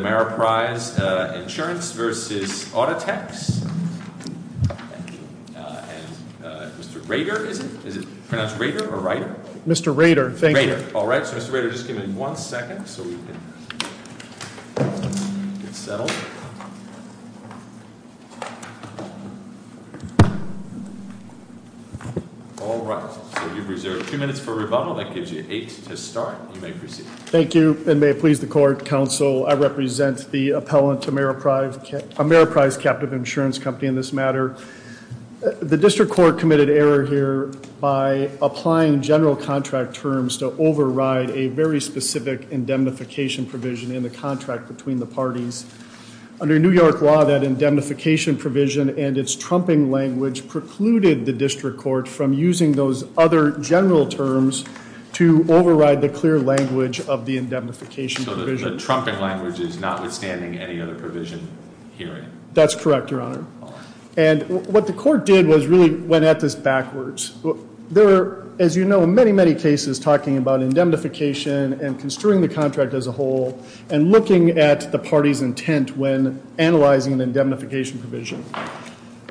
Demaraprise Insurance v. Audatex, and Mr. Rader, is it? Is it pronounced Rader or Ryder? Mr. Rader, thank you. All right, so Mr. Rader, just give me one second so we can get settled. All right, so you've reserved two minutes for rebuttal. That gives you eight to start. You may proceed. Thank you, and may it please the court, counsel, I represent the appellant to Demaraprise Captive Insurance Company in this matter. The district court committed error here by applying general contract terms to override a very specific indemnification provision in the contract between the parties. Under New York law, that indemnification provision and its trumping language precluded the district court from using those other general terms to override the clear language of the indemnification provision. So the trumping language is notwithstanding any other provision here? That's correct, Your Honor. All right. And what the court did was really went at this backwards. There are, as you know, many, many cases talking about indemnification and construing the contract as a whole and looking at the party's intent when analyzing the indemnification provision.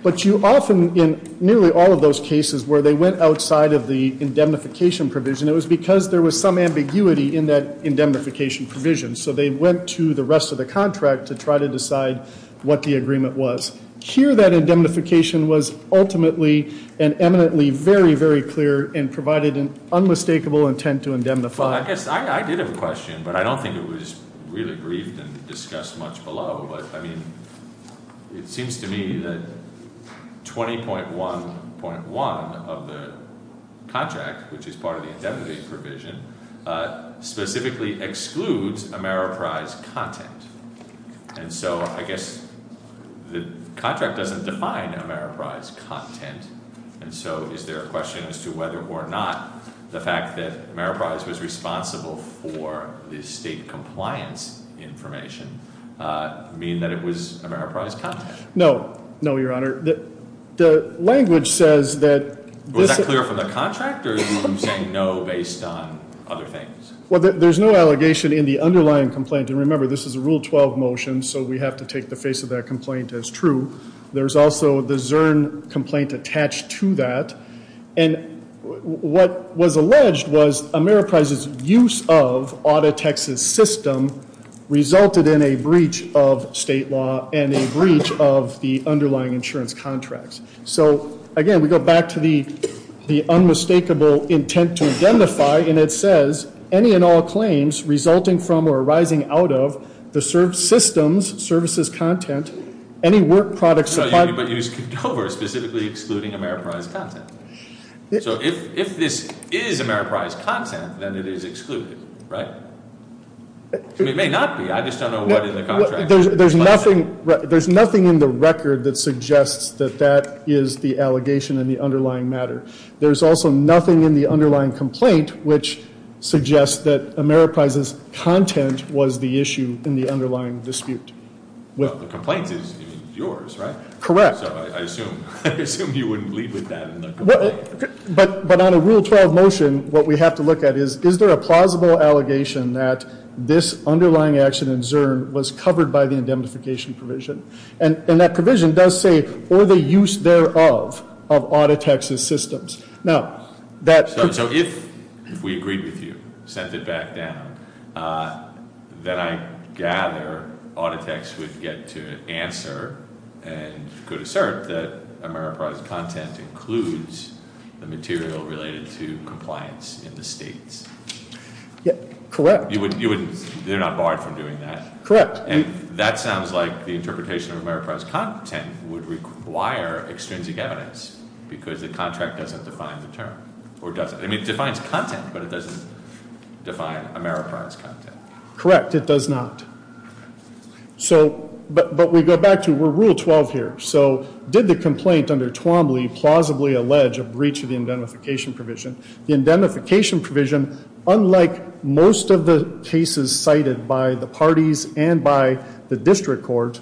But you often, in nearly all of those cases where they went outside of the indemnification provision, it was because there was some ambiguity in that indemnification provision. So they went to the rest of the contract to try to decide what the agreement was. Here, that indemnification was ultimately and eminently very, very clear and provided an unmistakable intent to indemnify. Well, I guess I did have a question, but I don't think it was really briefed and discussed much below. But, I mean, it seems to me that 20.1.1 of the contract, which is part of the indemnity provision, specifically excludes Ameriprise content. And so I guess the contract doesn't define Ameriprise content. And so is there a question as to whether or not the fact that Ameriprise was responsible for the state compliance information mean that it was Ameriprise content? No. No, Your Honor. The language says that this- Was that clear from the contract or did you say no based on other things? Well, there's no allegation in the underlying complaint. And remember, this is a Rule 12 motion, so we have to take the face of that complaint as true. There's also the Zurn complaint attached to that. And what was alleged was Ameriprise's use of Auditex's system resulted in a breach of state law and a breach of the underlying insurance contracts. So, again, we go back to the unmistakable intent to identify. And it says, any and all claims resulting from or arising out of the system's services content, any work products- But you skipped over specifically excluding Ameriprise content. So if this is Ameriprise content, then it is excluded, right? It may not be. I just don't know what in the contract- There's nothing in the record that suggests that that is the allegation in the underlying matter. There's also nothing in the underlying complaint which suggests that Ameriprise's content was the issue in the underlying dispute. Well, the complaint is yours, right? Correct. So I assume you wouldn't lead with that in the complaint. But on a Rule 12 motion, what we have to look at is, is there a plausible allegation that this underlying action in Zurn was covered by the indemnification provision? And that provision does say, or the use thereof of Auditex's systems. Now, that- So if we agreed with you, sent it back down, then I gather Auditex would get to answer and could assert that Ameriprise's content includes the material related to compliance in the states. Correct. They're not barred from doing that? Correct. And that sounds like the interpretation of Ameriprise's content would require extrinsic evidence because the contract doesn't define the term. Or does it? I mean, it defines content, but it doesn't define Ameriprise's content. Correct. It does not. So, but we go back to, we're Rule 12 here. So did the complaint under Twombly plausibly allege a breach of the indemnification provision? The indemnification provision, unlike most of the cases cited by the parties and by the district court,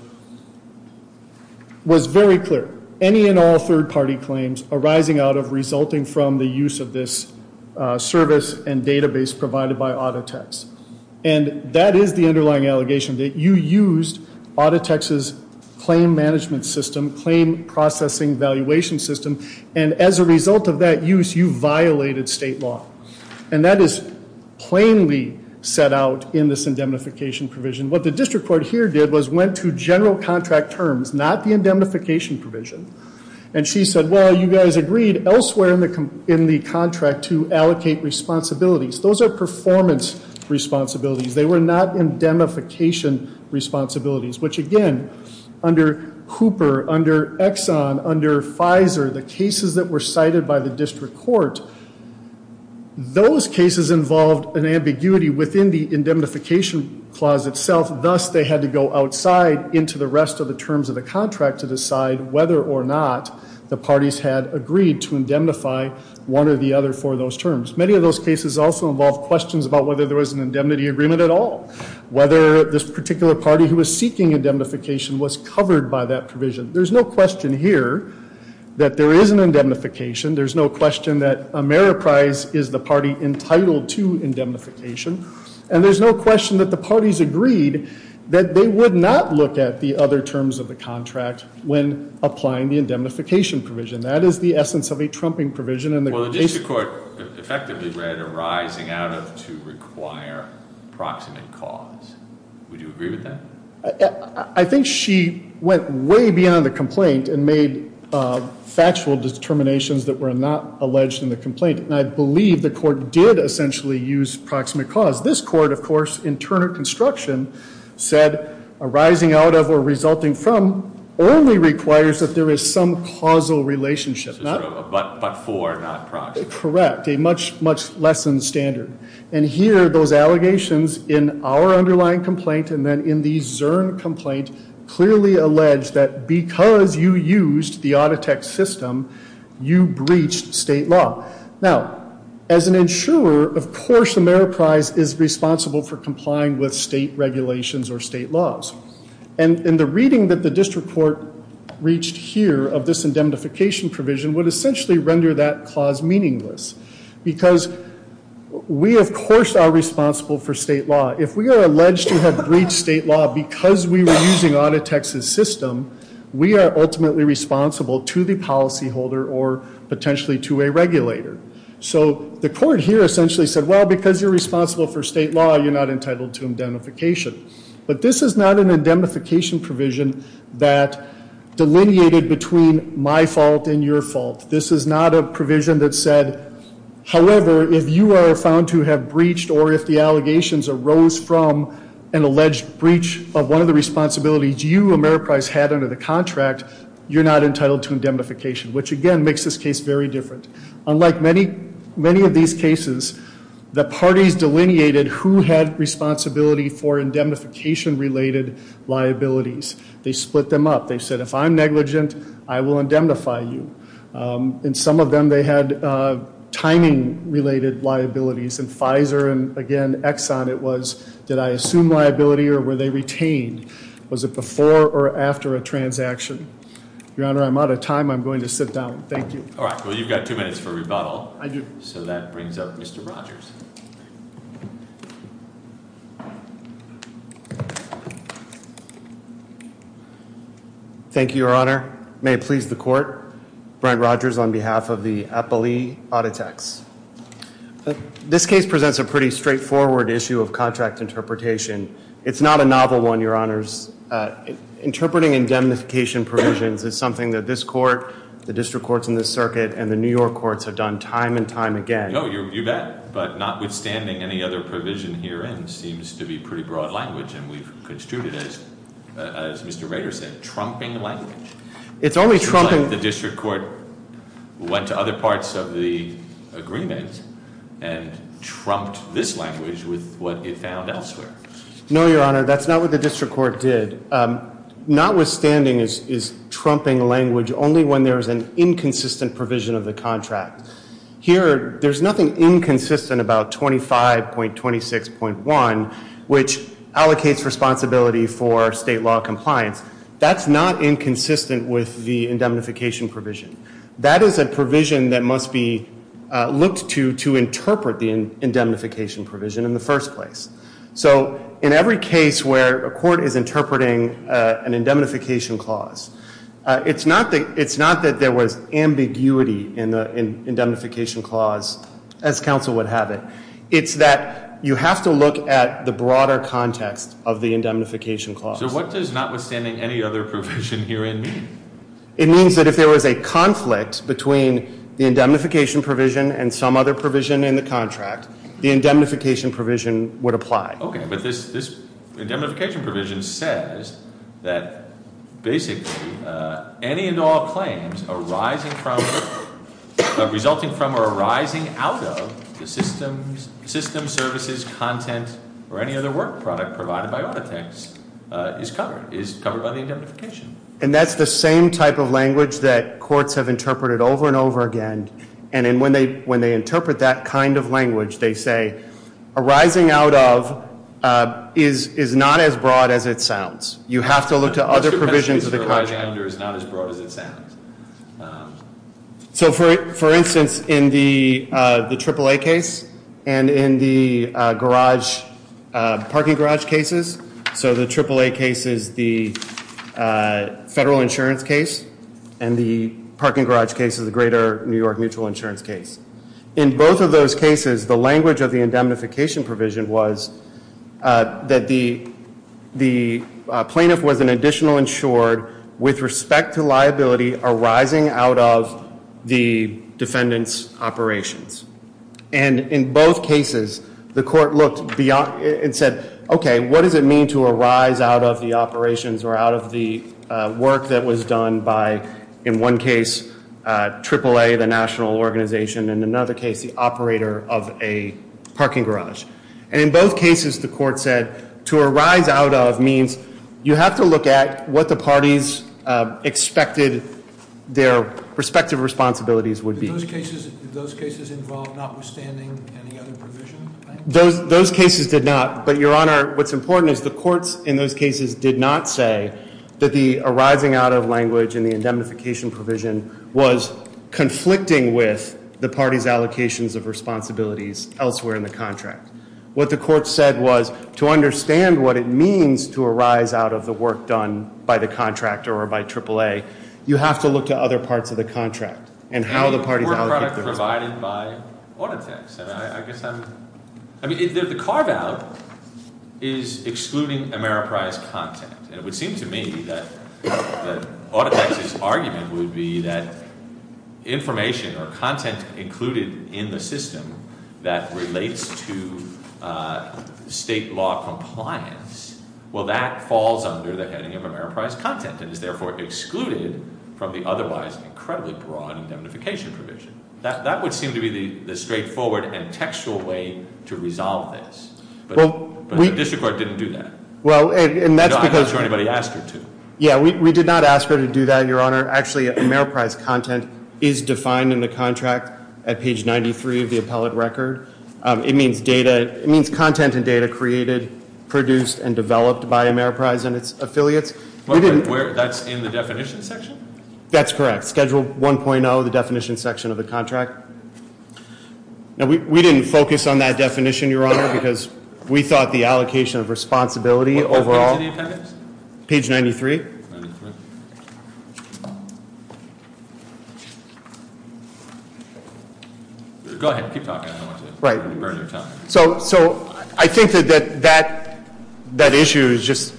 was very clear. Any and all third party claims arising out of resulting from the use of this service and database provided by Auditex. And that is the underlying allegation. That you used Auditex's claim management system, claim processing valuation system, and as a result of that use, you violated state law. And that is plainly set out in this indemnification provision. What the district court here did was went to general contract terms, not the indemnification provision. And she said, well, you guys agreed elsewhere in the contract to allocate responsibilities. Those are performance responsibilities. They were not indemnification responsibilities. Which, again, under Hooper, under Exxon, under Pfizer, the cases that were cited by the district court, those cases involved an ambiguity within the indemnification clause itself. Thus, they had to go outside into the rest of the terms of the contract to decide whether or not the parties had agreed to indemnify one or the other for those terms. Many of those cases also involved questions about whether there was an indemnity agreement at all. Whether this particular party who was seeking indemnification was covered by that provision. There's no question here that there is an indemnification. There's no question that Ameriprise is the party entitled to indemnification. And there's no question that the parties agreed that they would not look at the other terms of the contract when applying the indemnification provision. That is the essence of a trumping provision. Well, the district court effectively read arising out of to require proximate cause. Would you agree with that? I think she went way beyond the complaint and made factual determinations that were not alleged in the complaint. And I believe the court did essentially use proximate cause. This court, of course, in Turner Construction, said arising out of or resulting from only requires that there is some causal relationship. But for not proximate. Correct. A much, much less than standard. And here, those allegations in our underlying complaint and then in the Zurn complaint clearly allege that because you used the Auditec system, you breached state law. Now, as an insurer, of course, Ameriprise is responsible for complying with state regulations or state laws. And the reading that the district court reached here of this indemnification provision would essentially render that clause meaningless. Because we, of course, are responsible for state law. If we are alleged to have breached state law because we were using Auditec's system, we are ultimately responsible to the policyholder or potentially to a regulator. So the court here essentially said, well, because you're responsible for state law, you're not entitled to indemnification. But this is not an indemnification provision that delineated between my fault and your fault. This is not a provision that said, however, if you are found to have breached or if the allegations arose from an alleged breach of one of the responsibilities you, Ameriprise, had under the contract, you're not entitled to indemnification. Which, again, makes this case very different. Unlike many of these cases, the parties delineated who had responsibility for indemnification-related liabilities. They split them up. They said, if I'm negligent, I will indemnify you. In some of them, they had timing-related liabilities. In Pfizer and, again, Exxon, it was, did I assume liability or were they retained? Was it before or after a transaction? Your Honor, I'm out of time. I'm going to sit down. Thank you. All right. Well, you've got two minutes for rebuttal. I do. So that brings up Mr. Rogers. Thank you, Your Honor. May it please the Court, Brent Rogers on behalf of the Appellee Autotex. This case presents a pretty straightforward issue of contract interpretation. It's not a novel one, Your Honors. Interpreting indemnification provisions is something that this court, the district courts in this circuit, and the New York courts have done time and time again. No, you bet. But notwithstanding, any other provision herein seems to be pretty broad language, and we've construed it as, as Mr. Rader said, trumping language. It's only trumping. It seems like the district court went to other parts of the agreement and trumped this language with what it found elsewhere. No, Your Honor. That's not what the district court did. Notwithstanding is trumping language only when there is an inconsistent provision of the contract. Here, there's nothing inconsistent about 25.26.1, which allocates responsibility for state law compliance. That's not inconsistent with the indemnification provision. That is a provision that must be looked to to interpret the indemnification provision in the first place. So in every case where a court is interpreting an indemnification clause, it's not that there was ambiguity in the indemnification clause, as counsel would have it. It's that you have to look at the broader context of the indemnification clause. So what does notwithstanding any other provision herein mean? It means that if there was a conflict between the indemnification provision and some other provision in the contract, the indemnification provision would apply. Okay, but this indemnification provision says that, basically, any and all claims resulting from or arising out of the system, services, content, or any other work product provided by Autotex is covered by the indemnification. And that's the same type of language that courts have interpreted over and over again. And when they interpret that kind of language, they say arising out of is not as broad as it sounds. You have to look to other provisions of the contract. Mr. Pesci, arising out of is not as broad as it sounds. So, for instance, in the AAA case and in the parking garage cases, so the AAA case is the federal insurance case and the parking garage case is the greater New York mutual insurance case. In both of those cases, the language of the indemnification provision was that the plaintiff was an additional insured with respect to liability arising out of the defendant's operations. And in both cases, the court looked beyond and said, okay, what does it mean to arise out of the operations or out of the work that was done by, in one case, AAA, the national organization, and in another case, the operator of a parking garage? And in both cases, the court said to arise out of means you have to look at what the parties expected their respective responsibilities would be. Did those cases involve notwithstanding any other provision? Those cases did not. But, Your Honor, what's important is the courts in those cases did not say that the arising out of language and the indemnification provision was conflicting with the parties' allocations of responsibilities elsewhere in the contract. What the court said was to understand what it means to arise out of the work done by the contractor or by AAA, you have to look to other parts of the contract and how the parties allocate their responsibilities. The work product provided by Autotex, and I guess I'm, I mean, the carve-out is excluding Ameriprise content. And it would seem to me that Autotex's argument would be that information or content included in the system that relates to state law compliance, well, that falls under the heading of Ameriprise content and is therefore excluded from the otherwise incredibly broad indemnification provision. That would seem to be the straightforward and textual way to resolve this. But the district court didn't do that. I'm not sure anybody asked her to. Yeah, we did not ask her to do that, Your Honor. Actually, Ameriprise content is defined in the contract at page 93 of the appellate record. It means content and data created, produced, and developed by Ameriprise and its affiliates. That's in the definition section? That's correct. Schedule 1.0, the definition section of the contract. Now, we didn't focus on that definition, Your Honor, because we thought the allocation of responsibility overall. What page did he append it to? Page 93. Page 93. Go ahead. Keep talking. I don't want to burn your time. So I think that that issue is just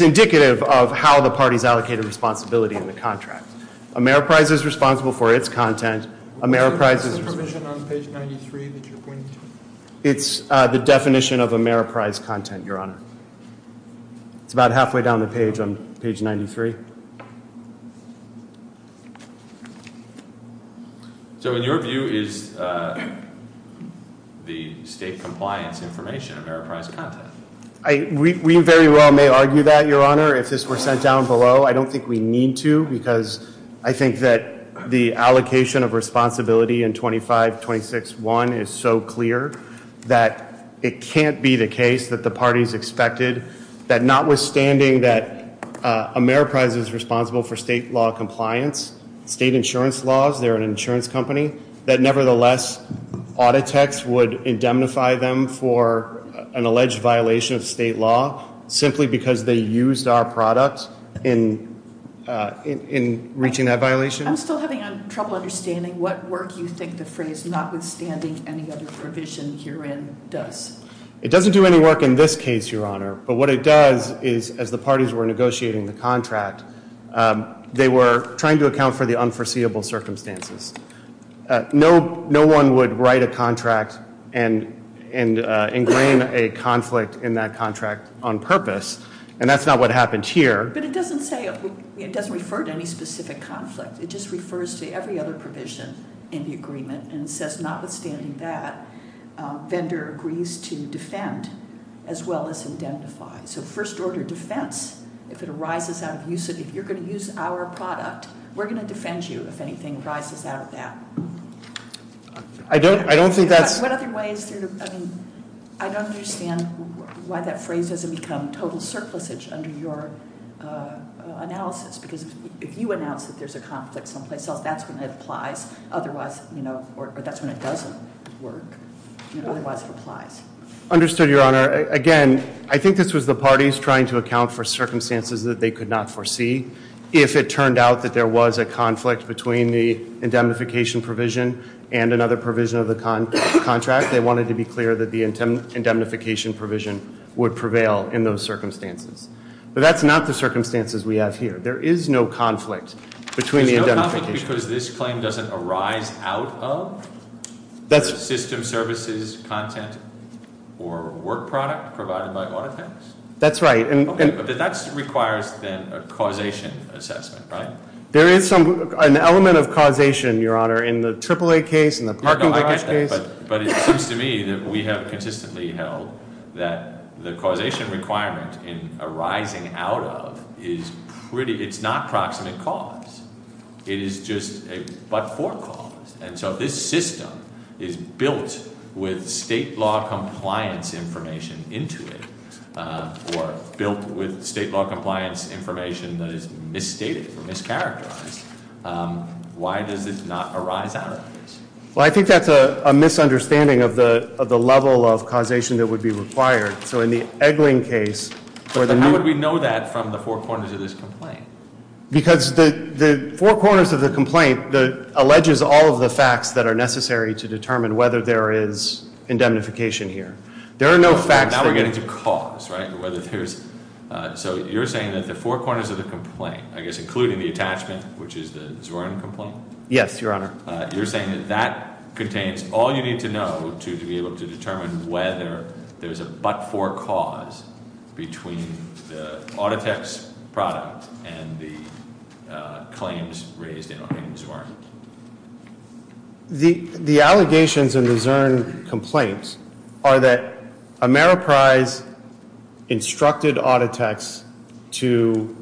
indicative of how the parties allocated responsibility in the contract. Ameriprise is responsible for its content. What is the provision on page 93 that you're pointing to? It's the definition of Ameriprise content, Your Honor. It's about halfway down the page on page 93. So in your view, is the state compliance information Ameriprise content? We very well may argue that, Your Honor, if this were sent down below. I don't think we need to because I think that the allocation of responsibility in 2526.1 is so clear that it can't be the case that the parties expected. That notwithstanding that Ameriprise is responsible for state law compliance, state insurance laws, they're an insurance company. That nevertheless, Auditex would indemnify them for an alleged violation of state law simply because they used our product in reaching that violation. I'm still having trouble understanding what work you think the phrase notwithstanding any other provision herein does. It doesn't do any work in this case, Your Honor. But what it does is as the parties were negotiating the contract, they were trying to account for the unforeseeable circumstances. No one would write a contract and ingrain a conflict in that contract on purpose. And that's not what happened here. But it doesn't say it doesn't refer to any specific conflict. It just refers to every other provision in the agreement. And it says notwithstanding that, vendor agrees to defend as well as indemnify. So first order defense, if it arises out of use of, if you're going to use our product, we're going to defend you if anything arises out of that. I don't think that's- What other ways, I mean, I don't understand why that phrase doesn't become total surplusage under your analysis. Because if you announce that there's a conflict someplace else, that's when it applies. Otherwise, or that's when it doesn't work. Otherwise, it applies. Understood, Your Honor. Again, I think this was the parties trying to account for circumstances that they could not foresee. If it turned out that there was a conflict between the indemnification provision and another provision of the contract, they wanted to be clear that the indemnification provision would prevail in those circumstances. But that's not the circumstances we have here. There is no conflict between the indemnification- There's no conflict because this claim doesn't arise out of? That's- System services, content, or work product provided by Autofix? That's right. Okay, but that requires then a causation assessment, right? There is an element of causation, Your Honor, in the AAA case, in the parking garage case. But it seems to me that we have consistently held that the causation requirement in arising out of is pretty- It's not proximate cause. It is just a but-for cause. And so if this system is built with state law compliance information into it, or built with state law compliance information that is misstated or mischaracterized, why does it not arise out of this? Well, I think that's a misunderstanding of the level of causation that would be required. So in the Eglin case- How would we know that from the four corners of this complaint? Because the four corners of the complaint alleges all of the facts that are necessary to determine whether there is indemnification here. There are no facts that- Now we're getting to cause, right? Whether there's- So you're saying that the four corners of the complaint, I guess including the attachment, which is the Zwirn complaint? Yes, Your Honor. You're saying that that contains all you need to know to be able to determine whether there's a but-for cause between the Autotex product and the claims raised in the Zwirn. The allegations in the Zwirn complaint are that Ameriprise instructed Autotex to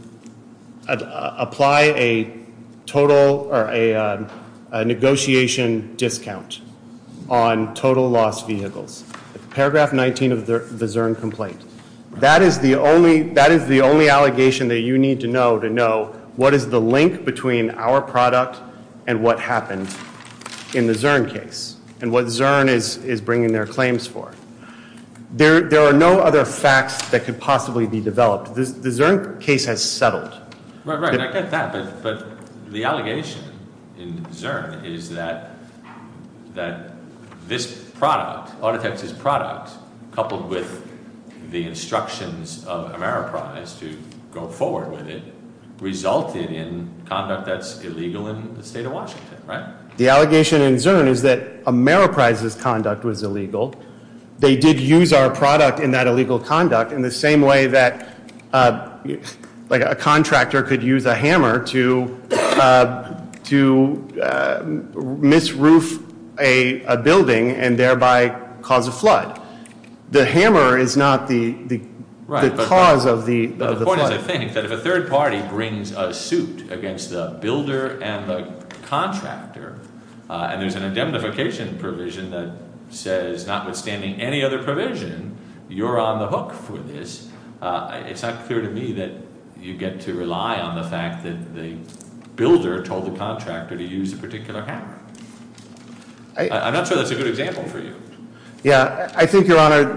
apply a total or a negotiation discount on total lost vehicles. Paragraph 19 of the Zwirn complaint. That is the only- That is the only allegation that you need to know to know what is the link between our product and what happened in the Zwirn case and what Zwirn is bringing their claims for. There are no other facts that could possibly be developed. The Zwirn case has settled. Right, right. I get that. But the allegation in Zwirn is that this product, Autotex's product, coupled with the instructions of Ameriprise to go forward with it, resulted in conduct that's illegal in the state of Washington, right? The allegation in Zwirn is that Ameriprise's conduct was illegal. They did use our product in that illegal conduct in the same way that a contractor could use a hammer to misroof a building and thereby cause a flood. The hammer is not the cause of the flood. Because I think that if a third party brings a suit against the builder and the contractor and there's an indemnification provision that says notwithstanding any other provision, you're on the hook for this. It's not clear to me that you get to rely on the fact that the builder told the contractor to use a particular hammer. I'm not sure that's a good example for you. Yeah, I think, Your Honor,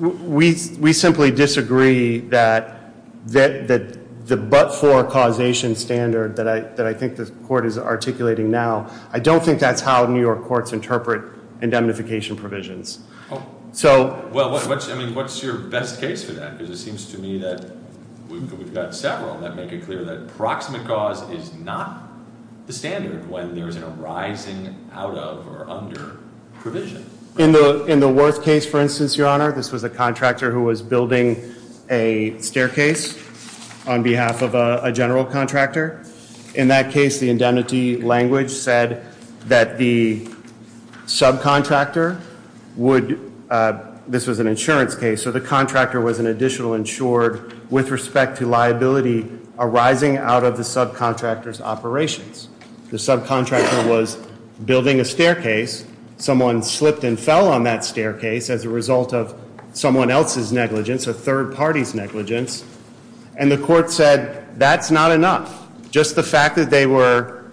we simply disagree that the but-for causation standard that I think the court is articulating now, I don't think that's how New York courts interpret indemnification provisions. Well, what's your best case for that? Because it seems to me that we've got several that make it clear that proximate cause is not the standard when there's a rising out of or under provision. In the Worth case, for instance, Your Honor, this was a contractor who was building a staircase on behalf of a general contractor. In that case, the indemnity language said that the subcontractor would, this was an insurance case, so the contractor was an additional insured with respect to liability arising out of the subcontractor's operations. The subcontractor was building a staircase. Someone slipped and fell on that staircase as a result of someone else's negligence, a third party's negligence. And the court said, that's not enough. Just the fact that they were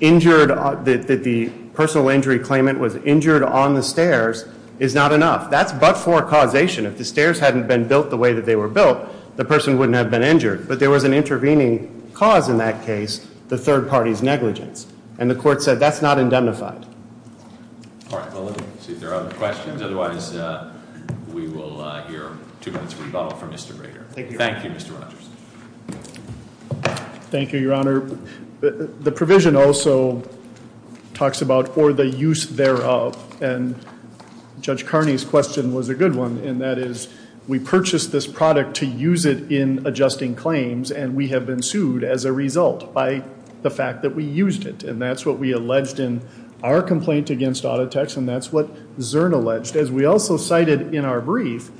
injured, that the personal injury claimant was injured on the stairs is not enough. That's but-for causation. If the stairs hadn't been built the way that they were built, the person wouldn't have been injured. But there was an intervening cause in that case, the third party's negligence. And the court said, that's not indemnified. All right, well let me see if there are other questions, otherwise we will hear two minutes rebuttal from Mr. Rader. Thank you, Mr. Rogers. Thank you, your honor. The provision also talks about for the use thereof. And Judge Carney's question was a good one, and that is, we purchased this product to use it in adjusting claims, and we have been sued as a result by the fact that we used it. And that's what we alleged in our complaint against Autotex, and that's what Zurn alleged. As we also cited in our brief,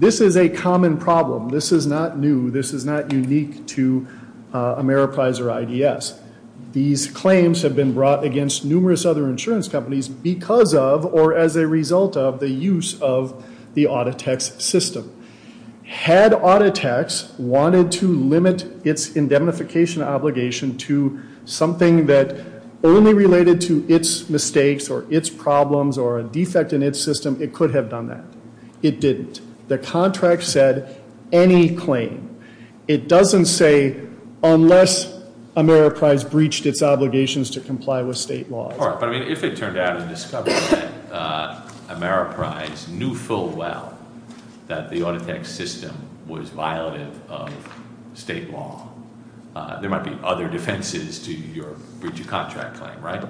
this is a common problem. This is not new, this is not unique to Ameriprise or IDS. These claims have been brought against numerous other insurance companies because of, or as a result of, the use of the Autotex system. Had Autotex wanted to limit its indemnification obligation to something that only related to its mistakes, or its problems, or a defect in its system, it could have done that. It didn't. The contract said any claim. It doesn't say unless Ameriprise breached its obligations to comply with state laws. All right, but I mean, if it turned out and discovered that Ameriprise knew full well that the Autotex system was violative of state law, there might be other defenses to your breach of contract claim, right?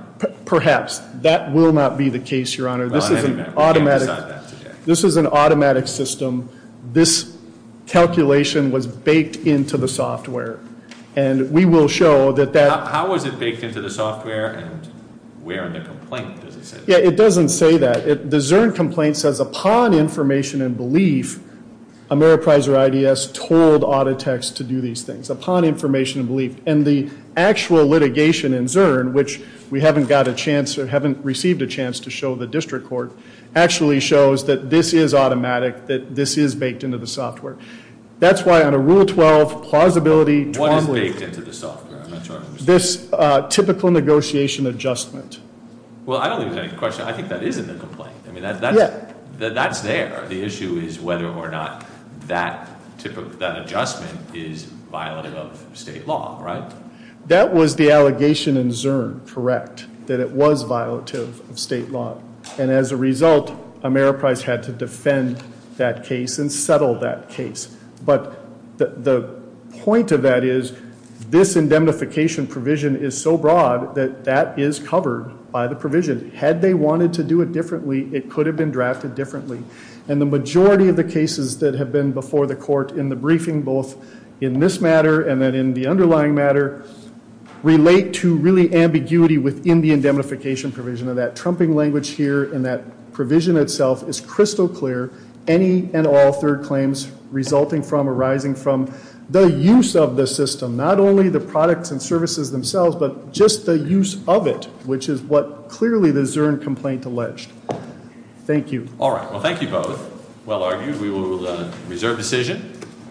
Perhaps. That will not be the case, your honor. This is an automatic- We can't decide that today. This is an automatic system. This calculation was baked into the software. And we will show that that- How was it baked into the software and where in the complaint does it say that? Yeah, it doesn't say that. The Zurn complaint says upon information and belief, Ameriprise or IDS told Autotex to do these things, upon information and belief. And the actual litigation in Zurn, which we haven't got a chance, or that this is automatic, that this is baked into the software. That's why on a rule 12, plausibility- What is baked into the software, I'm not sure I understand. This typical negotiation adjustment. Well, I don't think that's a question. I think that is in the complaint. I mean, that's there. The issue is whether or not that adjustment is violative of state law, right? That was the allegation in Zurn, correct, that it was violative of state law. And as a result, Ameriprise had to defend that case and settle that case. But the point of that is, this indemnification provision is so broad that that is covered by the provision. Had they wanted to do it differently, it could have been drafted differently. And the majority of the cases that have been before the court in the briefing, both in this matter and then in the underlying matter, relate to really ambiguity within the indemnification provision of that. Trumping language here in that provision itself is crystal clear. Any and all third claims resulting from, arising from, the use of the system. Not only the products and services themselves, but just the use of it, which is what clearly the Zurn complaint alleged. Thank you. All right, well thank you both. Well argued, we will reserve decision.